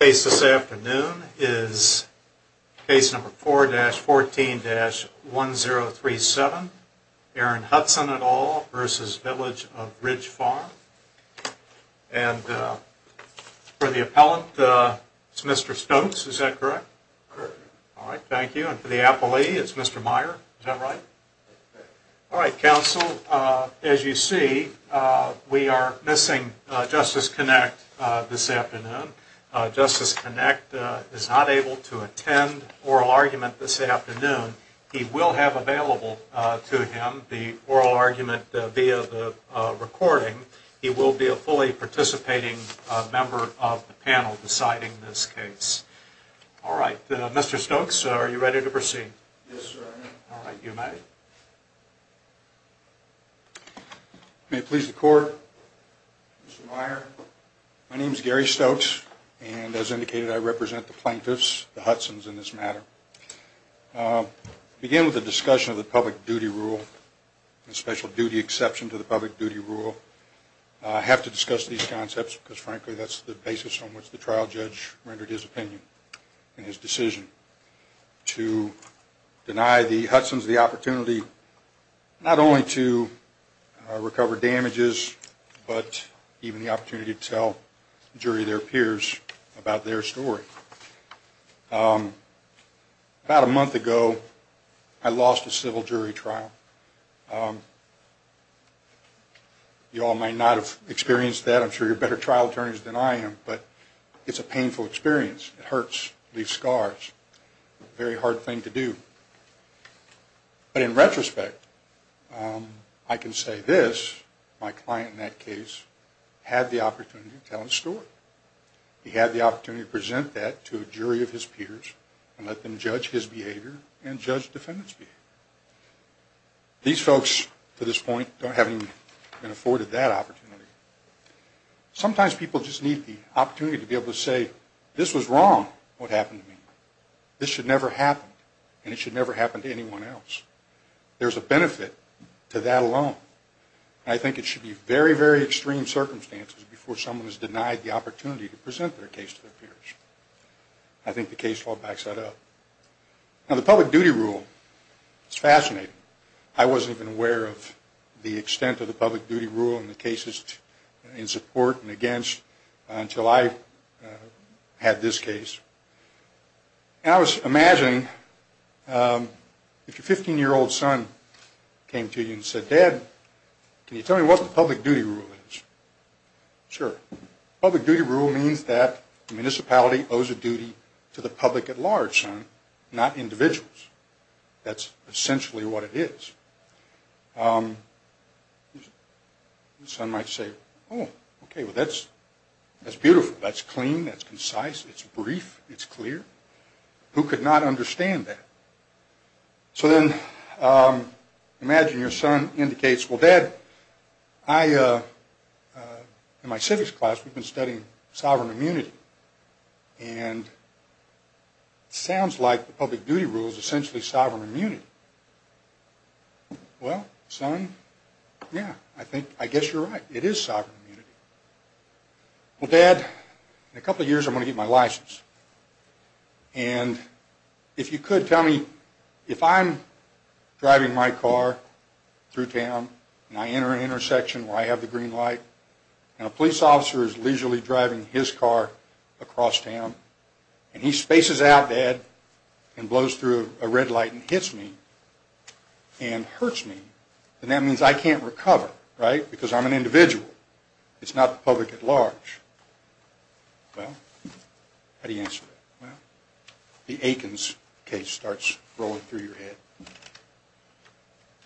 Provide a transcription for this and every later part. The case this afternoon is case number 4-14-1037, Aaron Hudson et al. v. Village of Ridge Farm. And for the appellant, it's Mr. Stokes, is that correct? All right, thank you. And for the appellee, it's Mr. Meyer, is that right? All right, counsel, as you see, we are missing Justice Connacht this afternoon. Justice Connacht is not able to attend oral argument this afternoon. He will have available to him the oral argument via the recording. He will be a fully participating member of the panel deciding this case. All right, Mr. Stokes, are you ready to proceed? Yes, sir, I am. All right, you may. May it please the court, Mr. Meyer, my name is Gary Stokes, and as indicated, I represent the plaintiffs, the Hudson's, in this matter. I begin with a discussion of the public duty rule, a special duty exception to the public duty rule. I have to discuss these concepts because, frankly, that's the basis on which the trial judge rendered his opinion in his decision. To deny the Hudson's the opportunity not only to recover damages, but even the opportunity to tell the jury, their peers, about their story. About a month ago, I lost a civil jury trial. You all may not have experienced that. I'm sure you're better trial attorneys than I am, but it's a painful experience. It hurts, leaves scars, a very hard thing to do. But in retrospect, I can say this, my client in that case had the opportunity to tell his story. He had the opportunity to present that to a jury of his peers and let them judge his behavior and judge the defendant's behavior. These folks, to this point, haven't even been afforded that opportunity. Sometimes people just need the opportunity to be able to say, this was wrong, what happened to me. This should never happen, and it should never happen to anyone else. There's a benefit to that alone. I think it should be very, very extreme circumstances before someone is denied the opportunity to present their case to their peers. I think the case law backs that up. Now, the public duty rule is fascinating. I wasn't even aware of the extent of the public duty rule and the cases in support and against until I had this case. And I was imagining, if your 15-year-old son came to you and said, Dad, can you tell me what the public duty rule is? Sure. Public duty rule means that the municipality owes a duty to the public at large, son, not individuals. That's essentially what it is. Your son might say, oh, okay, well, that's beautiful. That's clean. That's concise. It's brief. It's clear. Who could not understand that? So then imagine your son indicates, well, Dad, in my civics class, we've been studying sovereign immunity. And it sounds like the public duty rule is essentially sovereign immunity. Well, son, yeah, I guess you're right. It is sovereign immunity. Well, Dad, in a couple of years, I'm going to get my license. And if you could tell me, if I'm driving my car through town and I enter an intersection where I have the green light and a police officer is leisurely driving his car across town and he spaces out, Dad, and blows through a red light and hits me and hurts me, then that means I can't recover, right, because I'm an individual. It's not the public at large. Well, how do you answer that? Well, the Aikens case starts rolling through your head.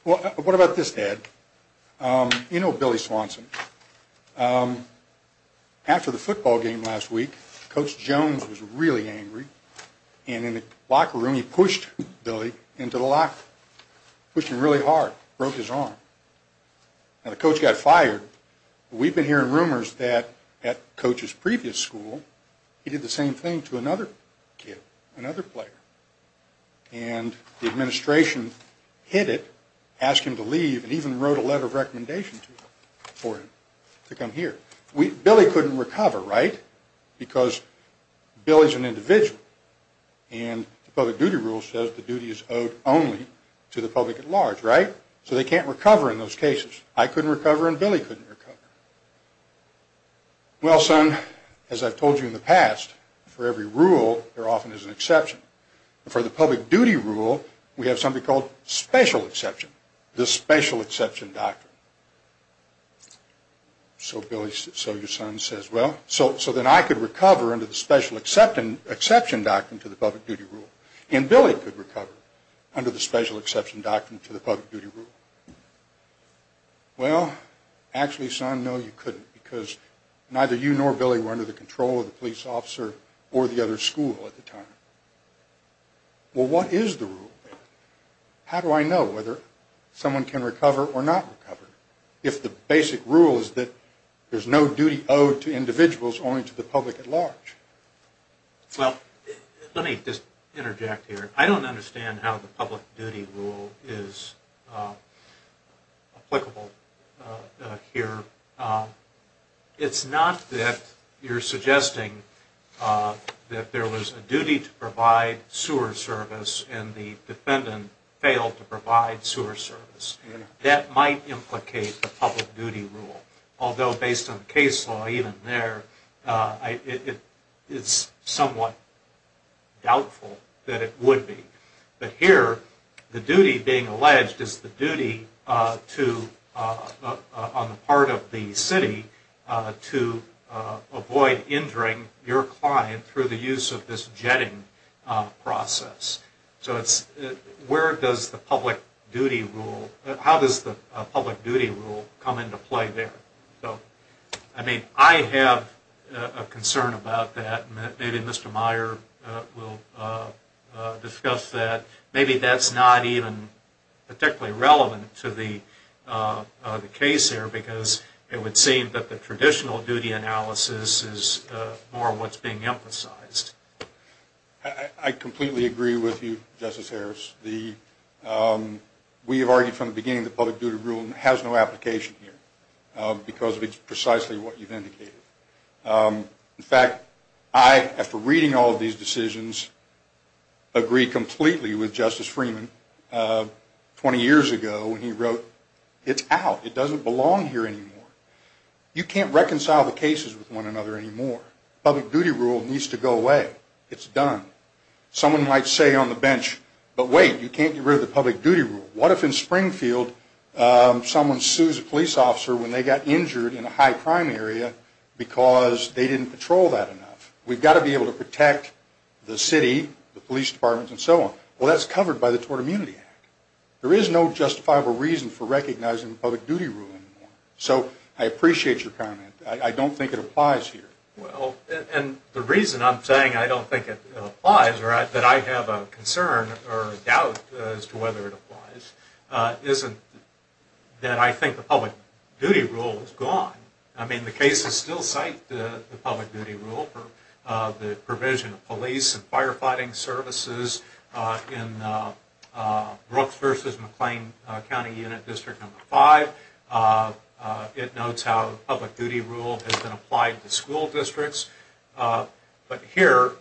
Well, what about this, Dad? You know Billy Swanson. After the football game last week, Coach Jones was really angry. And in the locker room, he pushed Billy into the locker room, pushed him really hard, broke his arm. Now, the coach got fired. We've been hearing rumors that at Coach's previous school, he did the same thing to another kid, another player. And the administration hit it, asked him to leave, and even wrote a letter of recommendation for him to come here. Billy couldn't recover, right, because Billy's an individual. And the public duty rule says the duty is owed only to the public at large, right? So they can't recover in those cases. I couldn't recover and Billy couldn't recover. Well, son, as I've told you in the past, for every rule, there often is an exception. For the public duty rule, we have something called special exception, the special exception doctrine. So your son says, well, so then I could recover under the special exception doctrine to the public duty rule. And Billy could recover under the special exception doctrine to the public duty rule. Well, actually, son, no, you couldn't, because neither you nor Billy were under the control of the police officer or the other school at the time. Well, what is the rule? How do I know whether someone can recover or not recover if the basic rule is that there's no duty owed to individuals, only to the public at large? Well, let me just interject here. I don't understand how the public duty rule is applicable here. It's not that you're suggesting that there was a duty to provide sewer service and the defendant failed to provide sewer service. That might implicate the public duty rule. Although, based on case law even there, it's somewhat doubtful that it would be. But here, the duty being alleged is the duty on the part of the city to avoid injuring your client through the use of this jetting process. So where does the public duty rule, how does the public duty rule come into play there? I mean, I have a concern about that. Maybe Mr. Meyer will discuss that. Maybe that's not even particularly relevant to the case here, because it would seem that the traditional duty analysis is more what's being emphasized. I completely agree with you, Justice Harris. We have argued from the beginning that the public duty rule has no application here, because of precisely what you've indicated. In fact, I, after reading all of these decisions, agree completely with Justice Freeman 20 years ago when he wrote, it's out, it doesn't belong here anymore. You can't reconcile the cases with one another anymore. The public duty rule needs to go away. It's done. Someone might say on the bench, but wait, you can't get rid of the public duty rule. What if in Springfield someone sues a police officer when they got injured in a high crime area because they didn't patrol that enough? We've got to be able to protect the city, the police departments, and so on. Well, that's covered by the Tort Immunity Act. There is no justifiable reason for recognizing the public duty rule anymore. So I appreciate your comment. I don't think it applies here. Well, and the reason I'm saying I don't think it applies, or that I have a concern or a doubt as to whether it applies, isn't that I think the public duty rule is gone. I mean, the cases still cite the public duty rule for the provision of police and firefighting services. In Brooks v. McLean County Unit District No. 5, it notes how public duty rule has been applied to school districts. But here,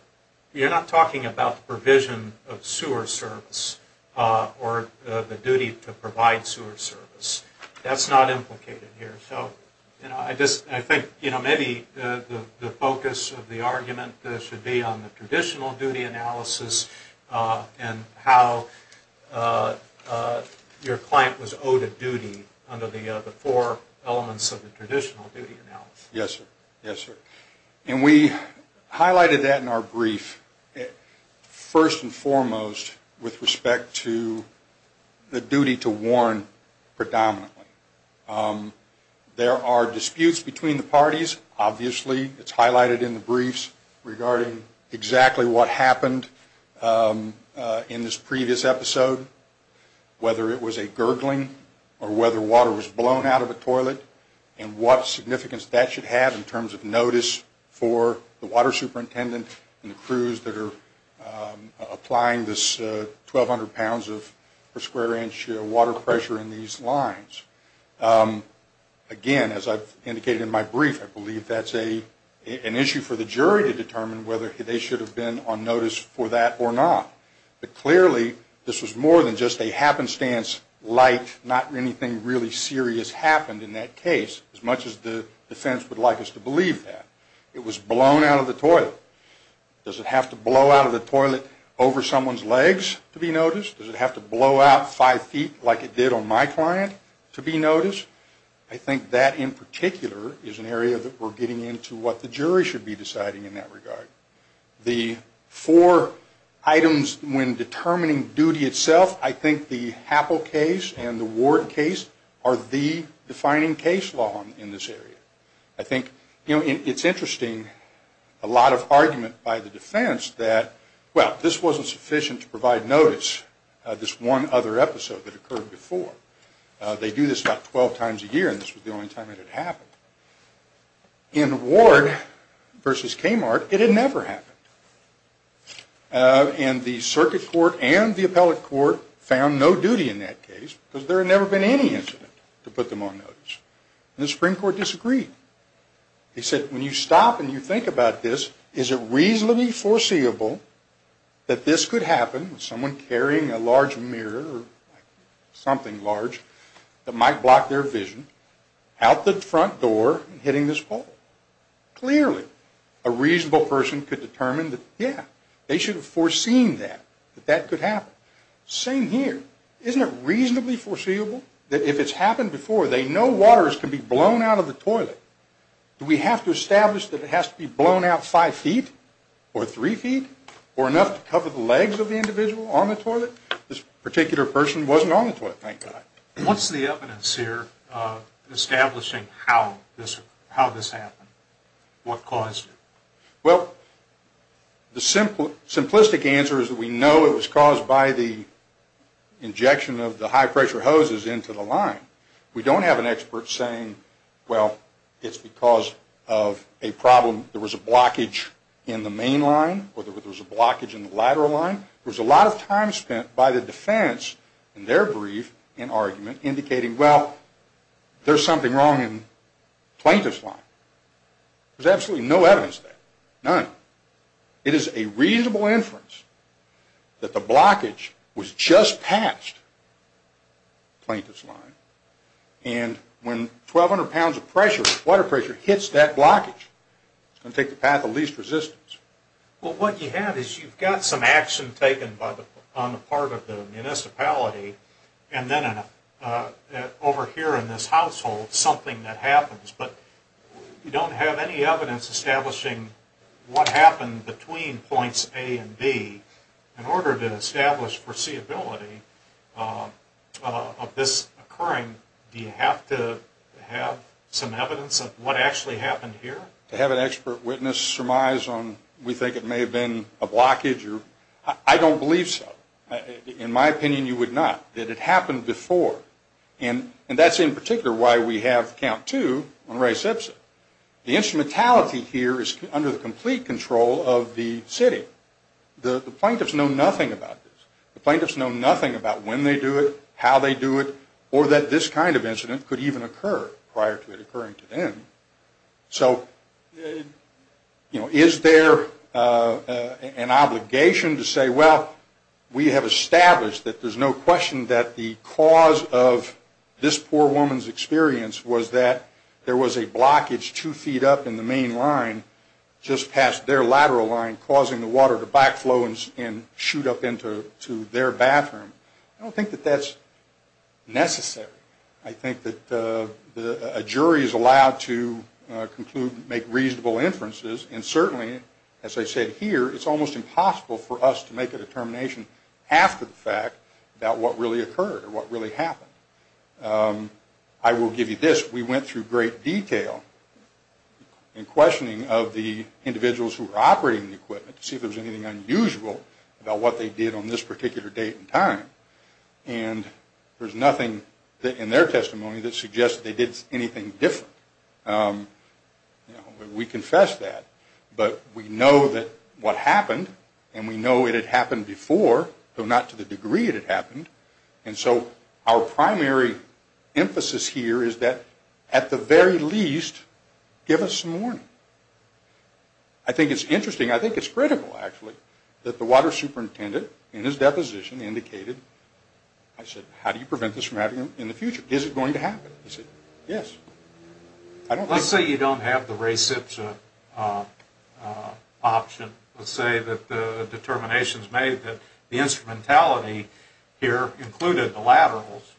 you're not talking about the provision of sewer service or the duty to provide sewer service. That's not implicated here. I think maybe the focus of the argument should be on the traditional duty analysis and how your client was owed a duty under the four elements of the traditional duty analysis. Yes, sir. Yes, sir. And we highlighted that in our brief, first and foremost, with respect to the duty to warn predominantly. There are disputes between the parties. Obviously, it's highlighted in the briefs regarding exactly what happened in this previous episode, whether it was a gurgling or whether water was blown out of a toilet and what significance that should have in terms of notice for the water superintendent and the crews that are applying this 1,200 pounds per square inch water pressure in these lines. Again, as I've indicated in my brief, I believe that's an issue for the jury to determine whether they should have been on notice for that or not. But clearly, this was more than just a happenstance like not anything really serious happened in that case, as much as the defense would like us to believe that. It was blown out of the toilet. Does it have to blow out of the toilet over someone's legs to be noticed? Does it have to blow out five feet like it did on my client to be noticed? I think that in particular is an area that we're getting into what the jury should be deciding in that regard. The four items when determining duty itself, I think the Happel case and the Ward case are the defining case law in this area. I think it's interesting, a lot of argument by the defense that, well, this wasn't sufficient to provide notice, this one other episode that occurred before. They do this about 12 times a year, and this was the only time it had happened. In Ward versus Kmart, it had never happened. And the circuit court and the appellate court found no duty in that case because there had never been any incident to put them on notice. And the Supreme Court disagreed. They said, when you stop and you think about this, is it reasonably foreseeable that this could happen with someone carrying a large mirror or something large that might block their vision out the front door and hitting this pole? Clearly, a reasonable person could determine that, yeah, they should have foreseen that, that that could happen. Same here. Isn't it reasonably foreseeable that if it's happened before, they know waters can be blown out of the toilet? Do we have to establish that it has to be blown out five feet or three feet or enough to cover the legs of the individual on the toilet? This particular person wasn't on the toilet, thank God. What's the evidence here establishing how this happened? What caused it? Well, the simplistic answer is that we know it was caused by the injection of the high-pressure hoses into the line. We don't have an expert saying, well, it's because of a problem. There was a blockage in the main line or there was a blockage in the lateral line. There was a lot of time spent by the defense in their brief and argument indicating, well, there's something wrong in the plaintiff's line. There's absolutely no evidence of that, none. It is a reasonable inference that the blockage was just past the plaintiff's line, and when 1,200 pounds of water pressure hits that blockage, it's going to take the path of least resistance. Well, what you have is you've got some action taken on the part of the municipality, and then over here in this household something that happens, but you don't have any evidence establishing what happened between points A and B. In order to establish foreseeability of this occurring, do you have to have some evidence of what actually happened here? Do you have to have an expert witness surmise on we think it may have been a blockage? I don't believe so. In my opinion, you would not. It had happened before, and that's in particular why we have count two on Ray Simpson. The instrumentality here is under the complete control of the city. The plaintiffs know nothing about this. The plaintiffs know nothing about when they do it, how they do it, or that this kind of incident could even occur prior to it occurring to them. So, you know, is there an obligation to say, well, we have established that there's no question that the cause of this poor woman's experience was that there was a blockage two feet up in the main line just past their lateral line, causing the water to backflow and shoot up into their bathroom. I don't think that that's necessary. I think that a jury is allowed to conclude and make reasonable inferences. And certainly, as I said here, it's almost impossible for us to make a determination after the fact about what really occurred or what really happened. I will give you this. We went through great detail in questioning of the individuals who were operating the equipment to see if there was anything unusual about what they did on this particular date and time. And there's nothing in their testimony that suggests they did anything different. We confess that. But we know that what happened, and we know it had happened before, though not to the degree it had happened. And so our primary emphasis here is that, at the very least, give us some warning. I think it's interesting. I think it's critical, actually, that the water superintendent in his deposition indicated, I said, how do you prevent this from happening in the future? Is it going to happen? He said, yes. Let's say you don't have the reception option. Let's say that the determination is made that the instrumentality here included the laterals,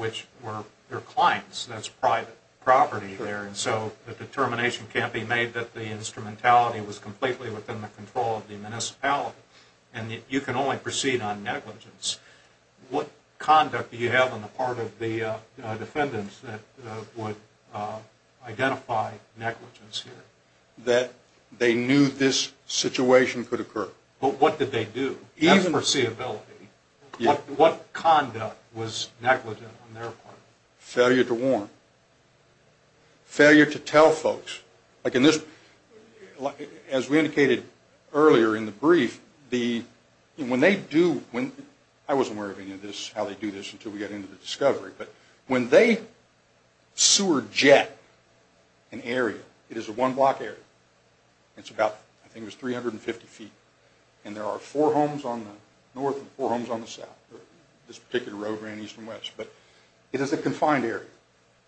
which were their clients. That's private property there. And so the determination can't be made that the instrumentality was completely within the control of the municipality and that you can only proceed on negligence. What conduct do you have on the part of the defendants that would identify negligence here? That they knew this situation could occur. But what did they do? As for seeability, what conduct was negligent on their part? Failure to warn. Failure to tell folks. Like in this, as we indicated earlier in the brief, when they do, I wasn't aware of any of this, how they do this, until we got into the discovery, but when they sewer jet an area, it is a one-block area. It's about, I think it was 350 feet. And there are four homes on the north and four homes on the south, this particular road ran east and west. But it is a confined area.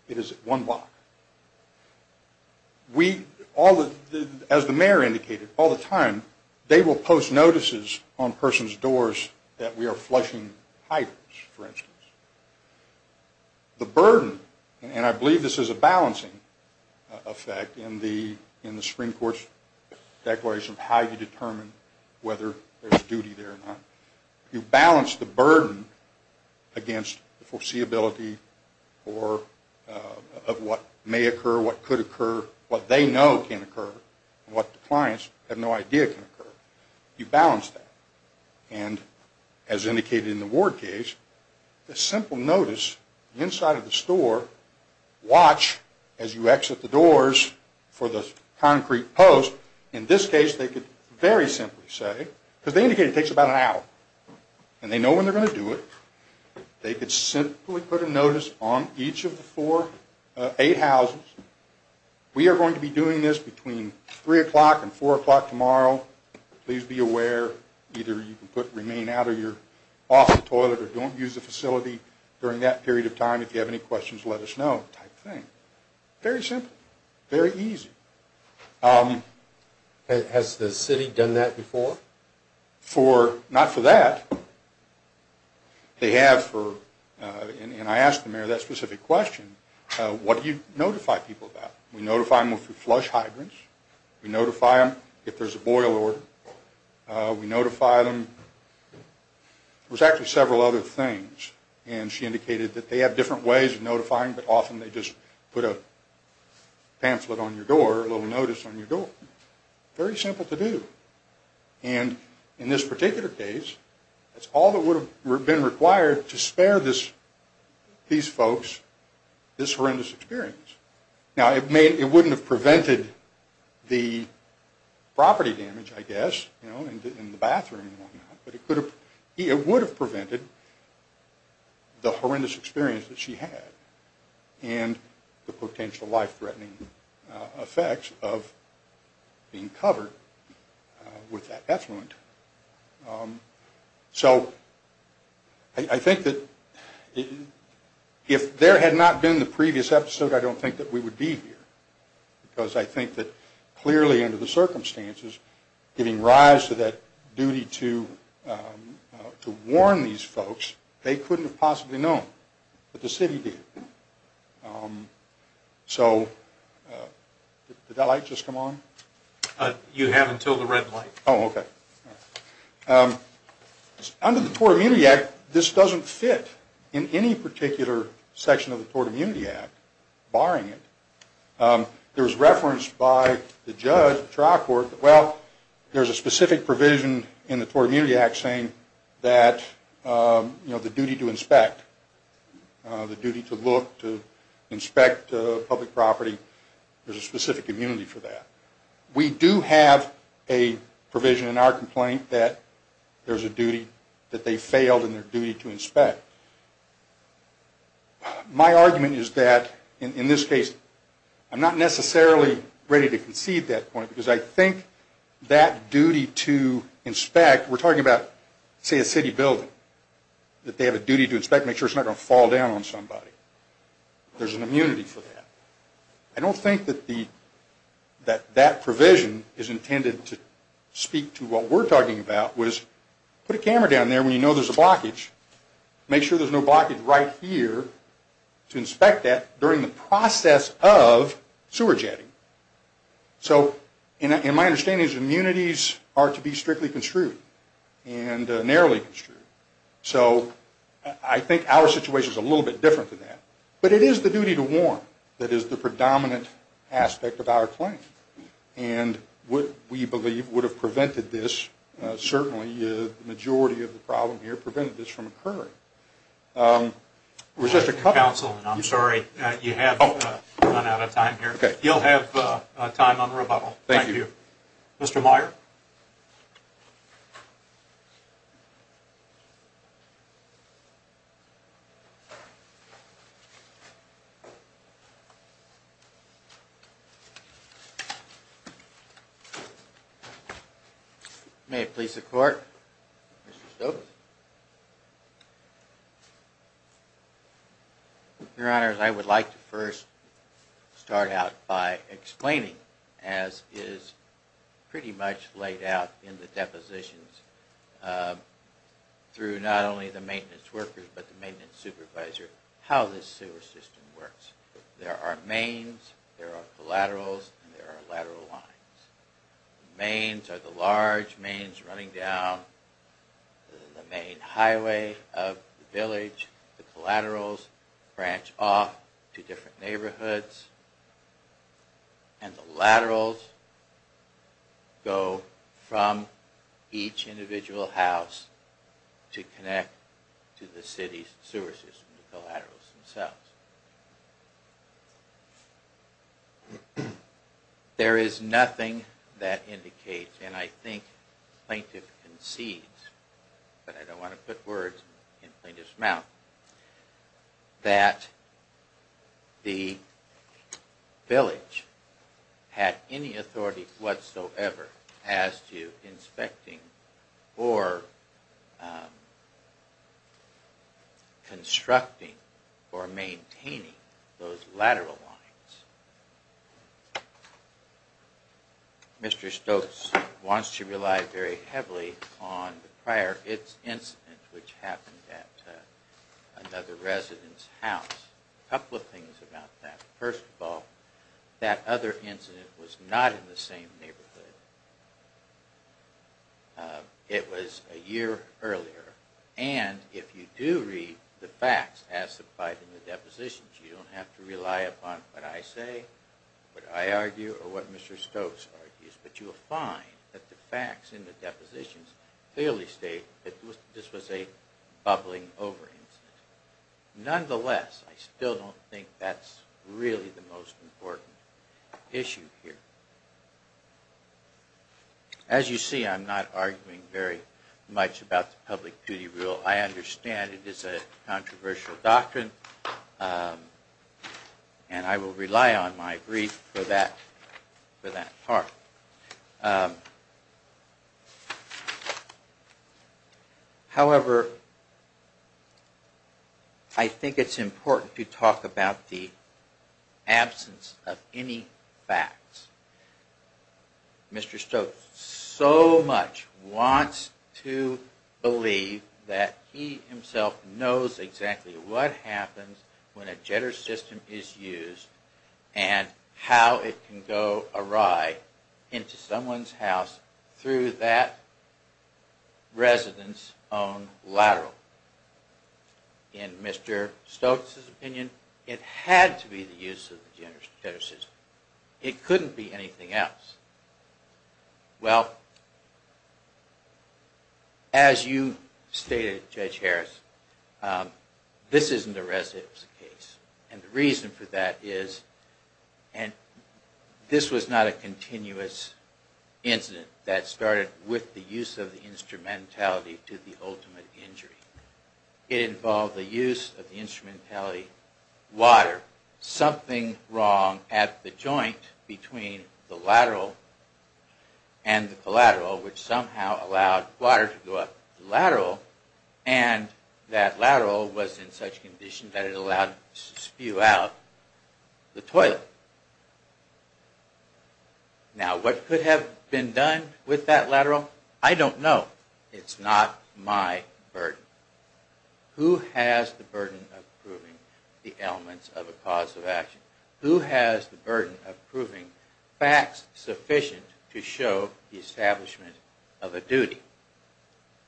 It is one block. We, as the mayor indicated, all the time they will post notices on persons' doors that we are flushing hydrants, for instance. The burden, and I believe this is a balancing effect in the Supreme Court's declaration of how you determine whether there's duty there or not, you balance the burden against the foreseeability of what may occur, what could occur, what they know can occur, and what the clients have no idea can occur. You balance that. And as indicated in the Ward case, a simple notice inside of the store, watch as you exit the doors for the concrete post. In this case, they could very simply say, because they indicated it takes about an hour, and they know when they're going to do it, they could simply put a notice on each of the four, eight houses. We are going to be doing this between 3 o'clock and 4 o'clock tomorrow. Please be aware. Either you can remain out or you're off the toilet or don't use the facility during that period of time. If you have any questions, let us know, type of thing. Very simple. Very easy. Has the city done that before? Not for that. They have for, and I asked the mayor that specific question, what do you notify people about? We notify them if they're flush hybrids. We notify them if there's a boil order. We notify them. There's actually several other things, and she indicated that they have different ways of notifying, but often they just put a pamphlet on your door, a little notice on your door. Very simple to do. And in this particular case, that's all that would have been required to spare these folks this horrendous experience. Now, it wouldn't have prevented the property damage, I guess, and the bathroom and whatnot, but it would have prevented the horrendous experience that she had and the potential life-threatening effects of being covered with that effluent. So I think that if there had not been the previous episode, I don't think that we would be here, because I think that clearly under the circumstances, giving rise to that duty to warn these folks, they couldn't have possibly known, but the city did. So did that light just come on? You have until the red light. Oh, okay. Under the Tort Immunity Act, this doesn't fit in any particular section of the Tort Immunity Act, barring it. There's reference by the judge, trial court, well, there's a specific provision in the Tort Immunity Act saying that the duty to inspect, the duty to look, to inspect public property, there's a specific immunity for that. We do have a provision in our complaint that there's a duty, that they failed in their duty to inspect. My argument is that, in this case, I'm not necessarily ready to concede that point, because I think that duty to inspect, we're talking about, say, a city building, that they have a duty to inspect to make sure it's not going to fall down on somebody. There's an immunity for that. I don't think that that provision is intended to speak to what we're talking about, was put a camera down there when you know there's a blockage, make sure there's no blockage right here, to inspect that during the process of sewer jetting. So, in my understanding, these immunities are to be strictly construed and narrowly construed. So, I think our situation is a little bit different than that. But it is the duty to warn that is the predominant aspect of our claim. And what we believe would have prevented this, certainly the majority of the problem here, prevented this from occurring. We're just a couple... Counsel, I'm sorry. You have run out of time here. Okay. You'll have time on rebuttal. Thank you. Thank you. Mr. Meyer? May it please the Court? Mr. Stokes? Your Honor, I would like to first start out by explaining, as is pretty much laid out in the depositions, through not only the maintenance workers, but the maintenance supervisor, how this sewer system works. There are mains. There are collaterals. And there are lateral lines. The mains are the large mains running down the main highway of the village. The collaterals branch off to different neighborhoods. And the laterals go from each individual house to connect to the city's sewer system, the collaterals themselves. There is nothing that indicates, and I think the plaintiff concedes, but I don't want to put words in the plaintiff's mouth, that the village had any authority whatsoever as to inspecting or constructing or maintaining those lateral lines. Mr. Stokes wants to rely very heavily on the prior incident, which happened at another resident's house. A couple of things about that. First of all, that other incident was not in the same neighborhood. It was a year earlier. And if you do read the facts as supplied in the depositions, you don't have to rely upon what I say, what I argue, or what Mr. Stokes argues. But you will find that the facts in the depositions clearly state that this was a bubbling over incident. Nonetheless, I still don't think that's really the most important issue here. As you see, I'm not arguing very much about the public duty rule. I understand it is a controversial doctrine, and I will rely on my brief for that part. However, I think it's important to talk about the absence of any facts. Mr. Stokes so much wants to believe that he himself knows exactly what happens when a jetter system is used, and how it can go awry into someone's house through that resident's own lateral. In Mr. Stokes' opinion, it had to be the use of the jetter system. It couldn't be anything else. Well, as you stated, Judge Harris, this isn't a resident's case. And the reason for that is, and this was not a continuous incident that started with the use of the instrumentality to the ultimate injury. It involved the use of the instrumentality water. Something wrong at the joint between the lateral and the collateral, and that lateral was in such condition that it allowed to spew out the toilet. Now, what could have been done with that lateral, I don't know. It's not my burden. Who has the burden of proving the elements of a cause of action? Who has the burden of proving facts sufficient to show the establishment of a duty?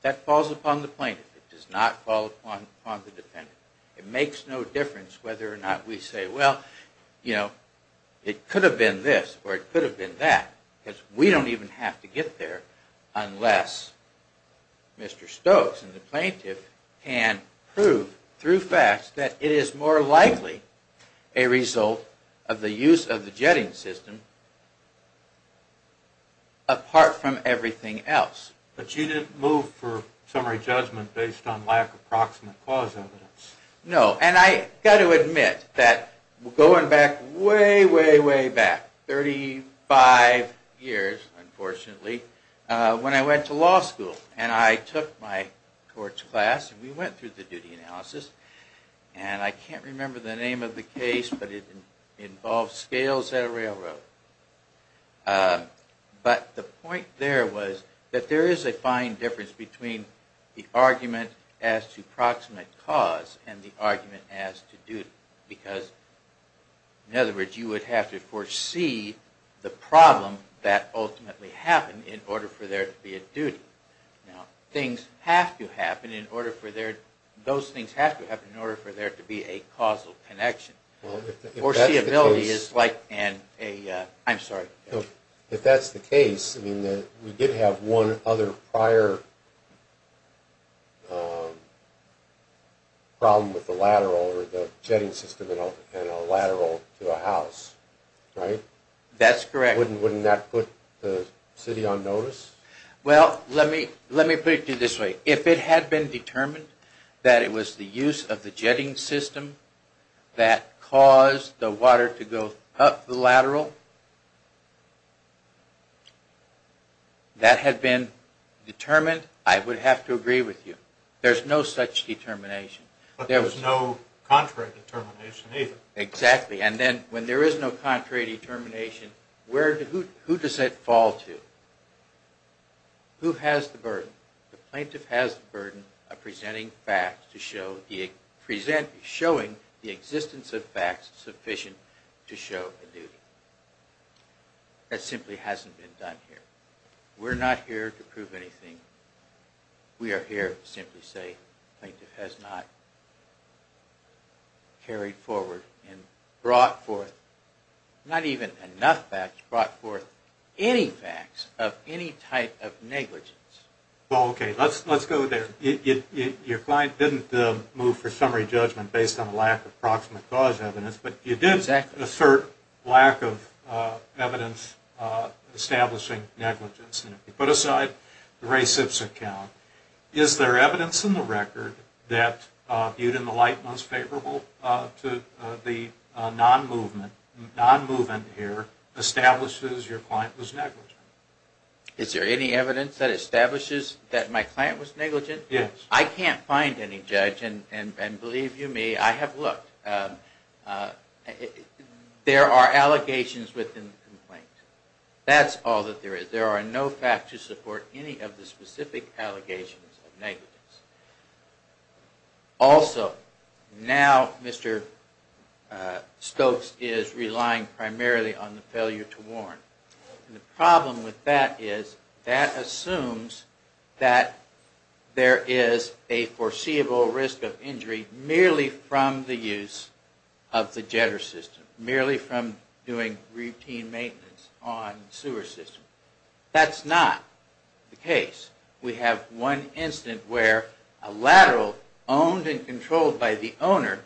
That falls upon the plaintiff. It does not fall upon the defendant. It makes no difference whether or not we say, well, it could have been this, or it could have been that, because we don't even have to get there unless Mr. Stokes and the plaintiff can prove through facts that it is more likely a result of the use of the jetting system apart from everything else. But you didn't move for summary judgment based on lack of proximate cause evidence. No, and I've got to admit that going back way, way, way back, 35 years, unfortunately, when I went to law school, and I took my courts class, and we went through the duty analysis, and I can't remember the name of the case, but it involved scales at a railroad. But the point there was that there is a fine difference between the argument as to proximate cause and the argument as to duty, because, in other words, you would have to foresee the problem that ultimately happened in order for there to be a duty. Things have to happen in order for there to be a causal connection. If that's the case, we did have one other prior problem with the jetting system and a lateral to the house, right? That's correct. Wouldn't that put the city on notice? Well, let me put it to you this way. If it had been determined that it was the use of the jetting system that caused the water to go up the lateral, that had been determined, I would have to agree with you. There's no such determination. But there was no contrary determination either. Exactly, and then when there is no contrary determination, who does that fall to? Who has the burden? The plaintiff has the burden of presenting facts to show the existence of facts sufficient to show a duty. That simply hasn't been done here. We're not here to prove anything. We are here to simply say the plaintiff has not carried forward and brought forth not even enough facts, brought forth any facts of any type of negligence. Okay, let's go there. Your client didn't move for summary judgment based on a lack of approximate cause evidence, but you did assert lack of evidence establishing negligence. Put aside the Ray Sips account, is there evidence in the record that, the non-movement here establishes your client was negligent? Is there any evidence that establishes that my client was negligent? Yes. I can't find any, Judge, and believe you me, I have looked. There are allegations within the complaint. That's all that there is. There are no facts to support any of the specific allegations of negligence. Also, now Mr. Stokes is relying primarily on the failure to warn. And the problem with that is that assumes that there is a foreseeable risk of injury merely from the use of the jetter system, merely from doing routine maintenance on the sewer system. That's not the case. We have one incident where a lateral owned and controlled by the owner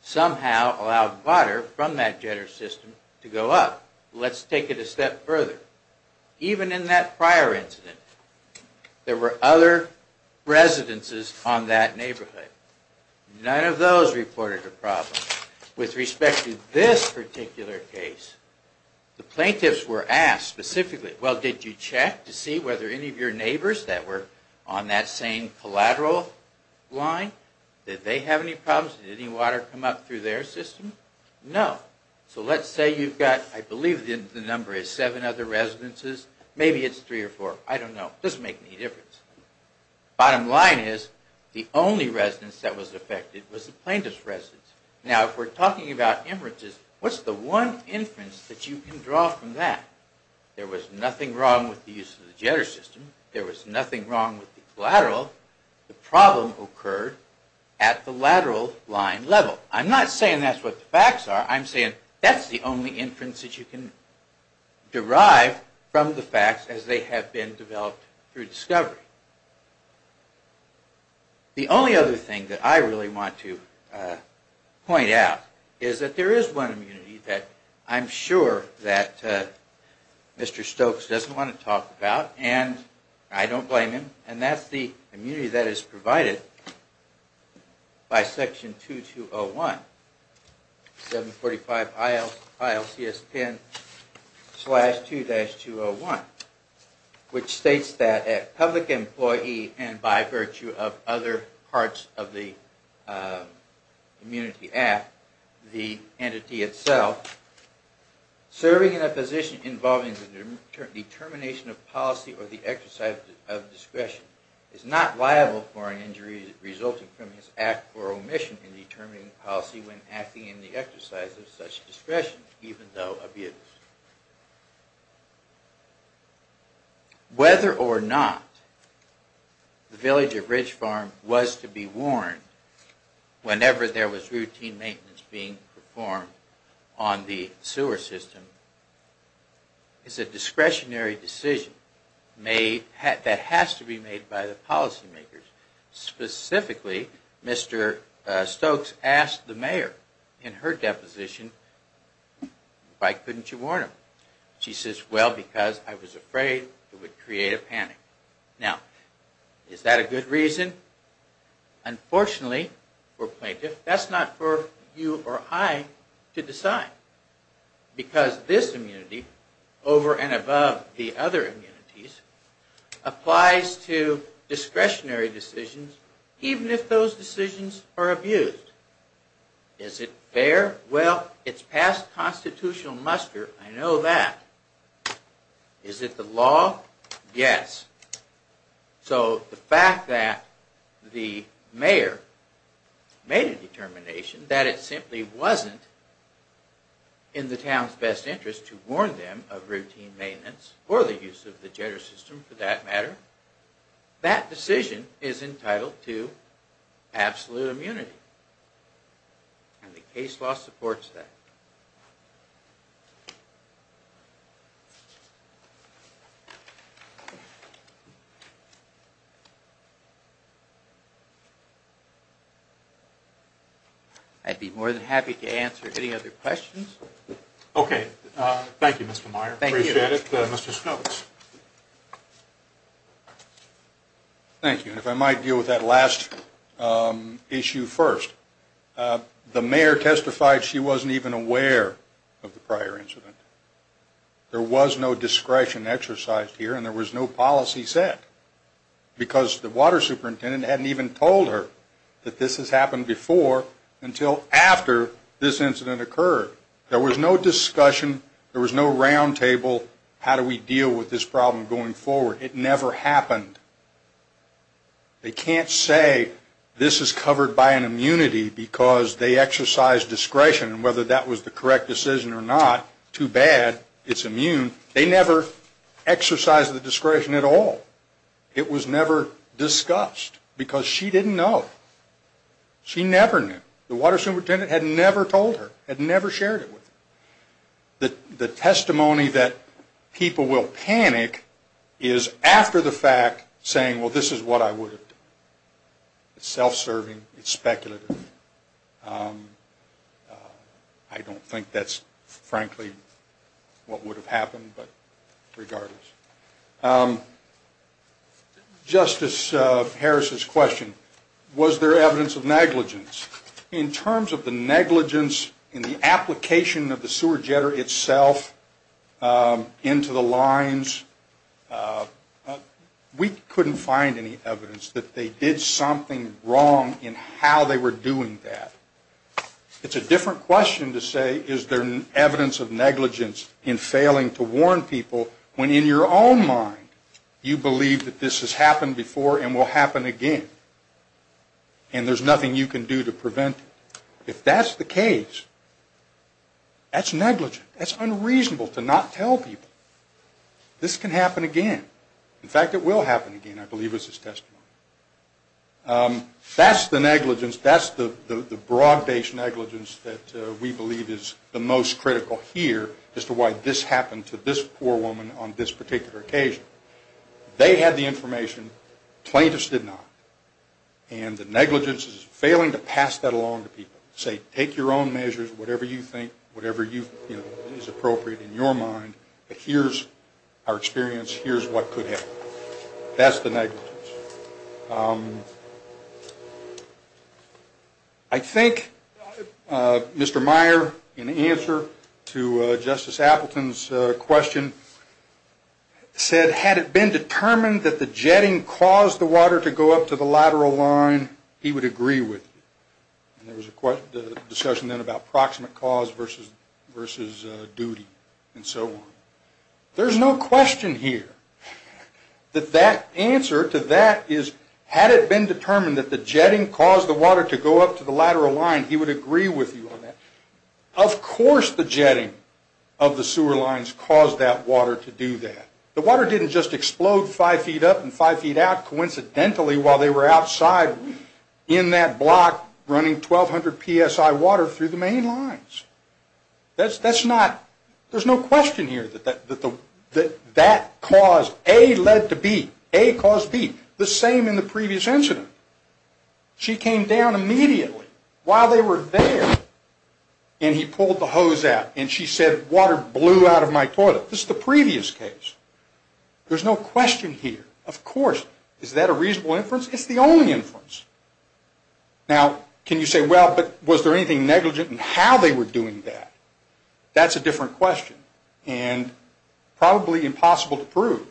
somehow allowed water from that jetter system to go up. Let's take it a step further. Even in that prior incident, there were other residences on that neighborhood. None of those reported a problem. With respect to this particular case, the plaintiffs were asked specifically, well, did you check to see whether any of your neighbors that were on that same collateral line, did they have any problems? Did any water come up through their system? No. So let's say you've got, I believe the number is seven other residences. Maybe it's three or four. I don't know. It doesn't make any difference. Bottom line is the only residence that was affected was the plaintiff's residence. Now, if we're talking about inferences, what's the one inference that you can draw from that? There was nothing wrong with the use of the jetter system. There was nothing wrong with the collateral. The problem occurred at the lateral line level. I'm not saying that's what the facts are. I'm saying that's the only inference that you can derive from the facts as they have been developed through discovery. The only other thing that I really want to point out is that there is one community that I'm sure that Mr. Stokes doesn't want to talk about, and I don't blame him, and that's the community that is provided by Section 2201, 745 ILCS 10-2-201, which states that a public employee, and by virtue of other parts of the community app, the entity itself, serving in a position involving the determination of policy or the exercise of discretion is not liable for an injury resulting from his act or omission in determining policy when acting in the exercise of such discretion, even though abused. Whether or not the village of Ridge Farm was to be warned whenever there was routine maintenance being performed on the sewer system is a discretionary decision that has to be made by the policy makers. Specifically, Mr. Stokes asked the mayor in her deposition, why couldn't you warn him? She says, well, because I was afraid it would create a panic. Now, is that a good reason? Unfortunately, for a plaintiff, that's not for you or I to decide, because this immunity, over and above the other immunities, applies to discretionary decisions even if those decisions are abused. Is it fair? Well, it's past constitutional muster. I know that. Is it the law? Yes. So the fact that the mayor made a determination that it simply wasn't in the town's best interest to warn them of routine maintenance, or the use of the jitter system for that matter, that decision is entitled to absolute immunity. And the case law supports that. I'd be more than happy to answer any other questions. Okay. Thank you, Mr. Meyer. Appreciate it. Thank you. Mr. Stokes. Thank you. And if I might deal with that last issue first. The mayor testified she wasn't even aware of the prior incident. There was no discretion exercised here, and there was no policy set, because the water superintendent hadn't even told her that this had happened before until after this incident occurred. There was no discussion, there was no roundtable, how do we deal with this problem going forward. It never happened. They can't say this is covered by an immunity because they exercise discretion, and whether that was the correct decision or not, too bad, it's immune. They never exercised the discretion at all. It was never discussed, because she didn't know. She never knew. The water superintendent had never told her, had never shared it with her. The testimony that people will panic is after the fact saying, well, this is what I would have done. It's self-serving, it's speculative. I don't think that's frankly what would have happened, but regardless. Justice Harris' question, was there evidence of negligence? In terms of the negligence in the application of the sewer jetter itself into the lines, we couldn't find any evidence that they did something wrong in how they were doing that. It's a different question to say is there evidence of negligence in failing to warn people, when in your own mind you believe that this has happened before and will happen again, and there's nothing you can do to prevent it. If that's the case, that's negligent. That's unreasonable to not tell people. This can happen again. In fact, it will happen again, I believe, is his testimony. That's the negligence, that's the broad-based negligence that we believe is the most critical here as to why this happened to this poor woman on this particular occasion. They had the information, plaintiffs did not, and the negligence is failing to pass that along to people. Say, take your own measures, whatever you think, whatever is appropriate in your mind, but here's our experience, here's what could happen. That's the negligence. I think Mr. Meyer, in answer to Justice Appleton's question, said, had it been determined that the jetting caused the water to go up to the lateral line, he would agree with you. There was a discussion then about proximate cause versus duty, and so on. There's no question here that that answer to that is, had it been determined that the jetting caused the water to go up to the lateral line, he would agree with you on that. Of course the jetting of the sewer lines caused that water to do that. The water didn't just explode five feet up and five feet out coincidentally while they were outside in that block running 1,200 PSI water through the main lines. That's not, there's no question here that that caused, A led to B. A caused B. The same in the previous incident. She came down immediately while they were there and he pulled the hose out and she said, water blew out of my toilet. This is the previous case. There's no question here. Of course, is that a reasonable inference? It's the only inference. Now, can you say, well, but was there anything negligent in how they were doing that? That's a different question and probably impossible to prove.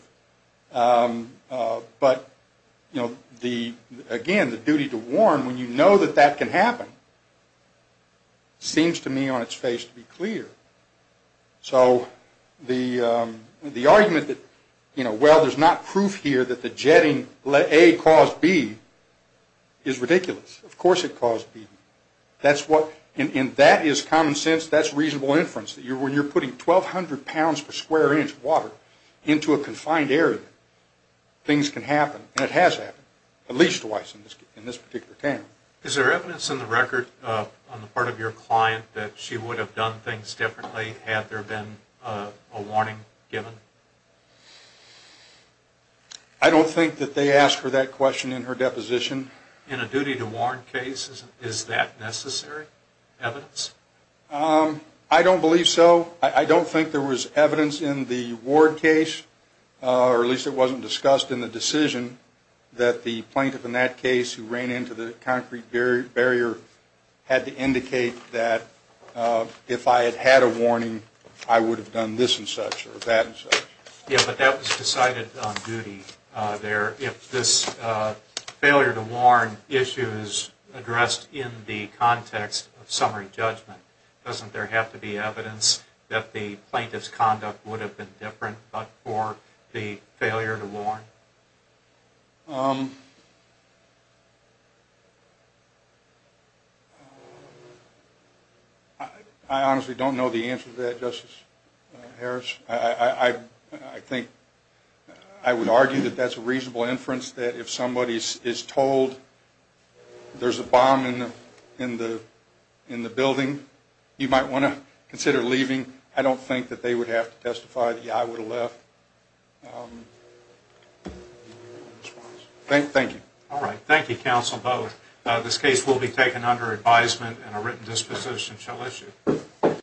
But, you know, the, again, the duty to warn when you know that that can happen seems to me on its face to be clear. So the argument that, you know, well, there's not proof here that the jetting A caused B is ridiculous. Of course it caused B. That's what, and that is common sense. That's reasonable inference. When you're putting 1,200 pounds per square inch water into a confined area, things can happen and it has happened at least twice in this particular town. Is there evidence in the record on the part of your client that she would have done things differently had there been a warning given? I don't think that they asked for that question in her deposition. In a duty to warn case, is that necessary evidence? I don't believe so. I don't think there was evidence in the Ward case, or at least it wasn't discussed in the decision, that the plaintiff in that case who ran into the concrete barrier had to indicate that if I had had a warning, I would have done this and such or that and such. Yeah, but that was decided on duty there. If this failure to warn issue is addressed in the context of summary judgment, doesn't there have to be evidence that the plaintiff's conduct would have been different but for the failure to warn? I honestly don't know the answer to that, Justice Harris. I would argue that that's a reasonable inference that if somebody is told there's a bomb in the building, you might want to consider leaving. I don't think that they would have to testify that, yeah, I would have left. Thank you. All right. Thank you, counsel, both. This case will be taken under advisement and a written disposition shall issue.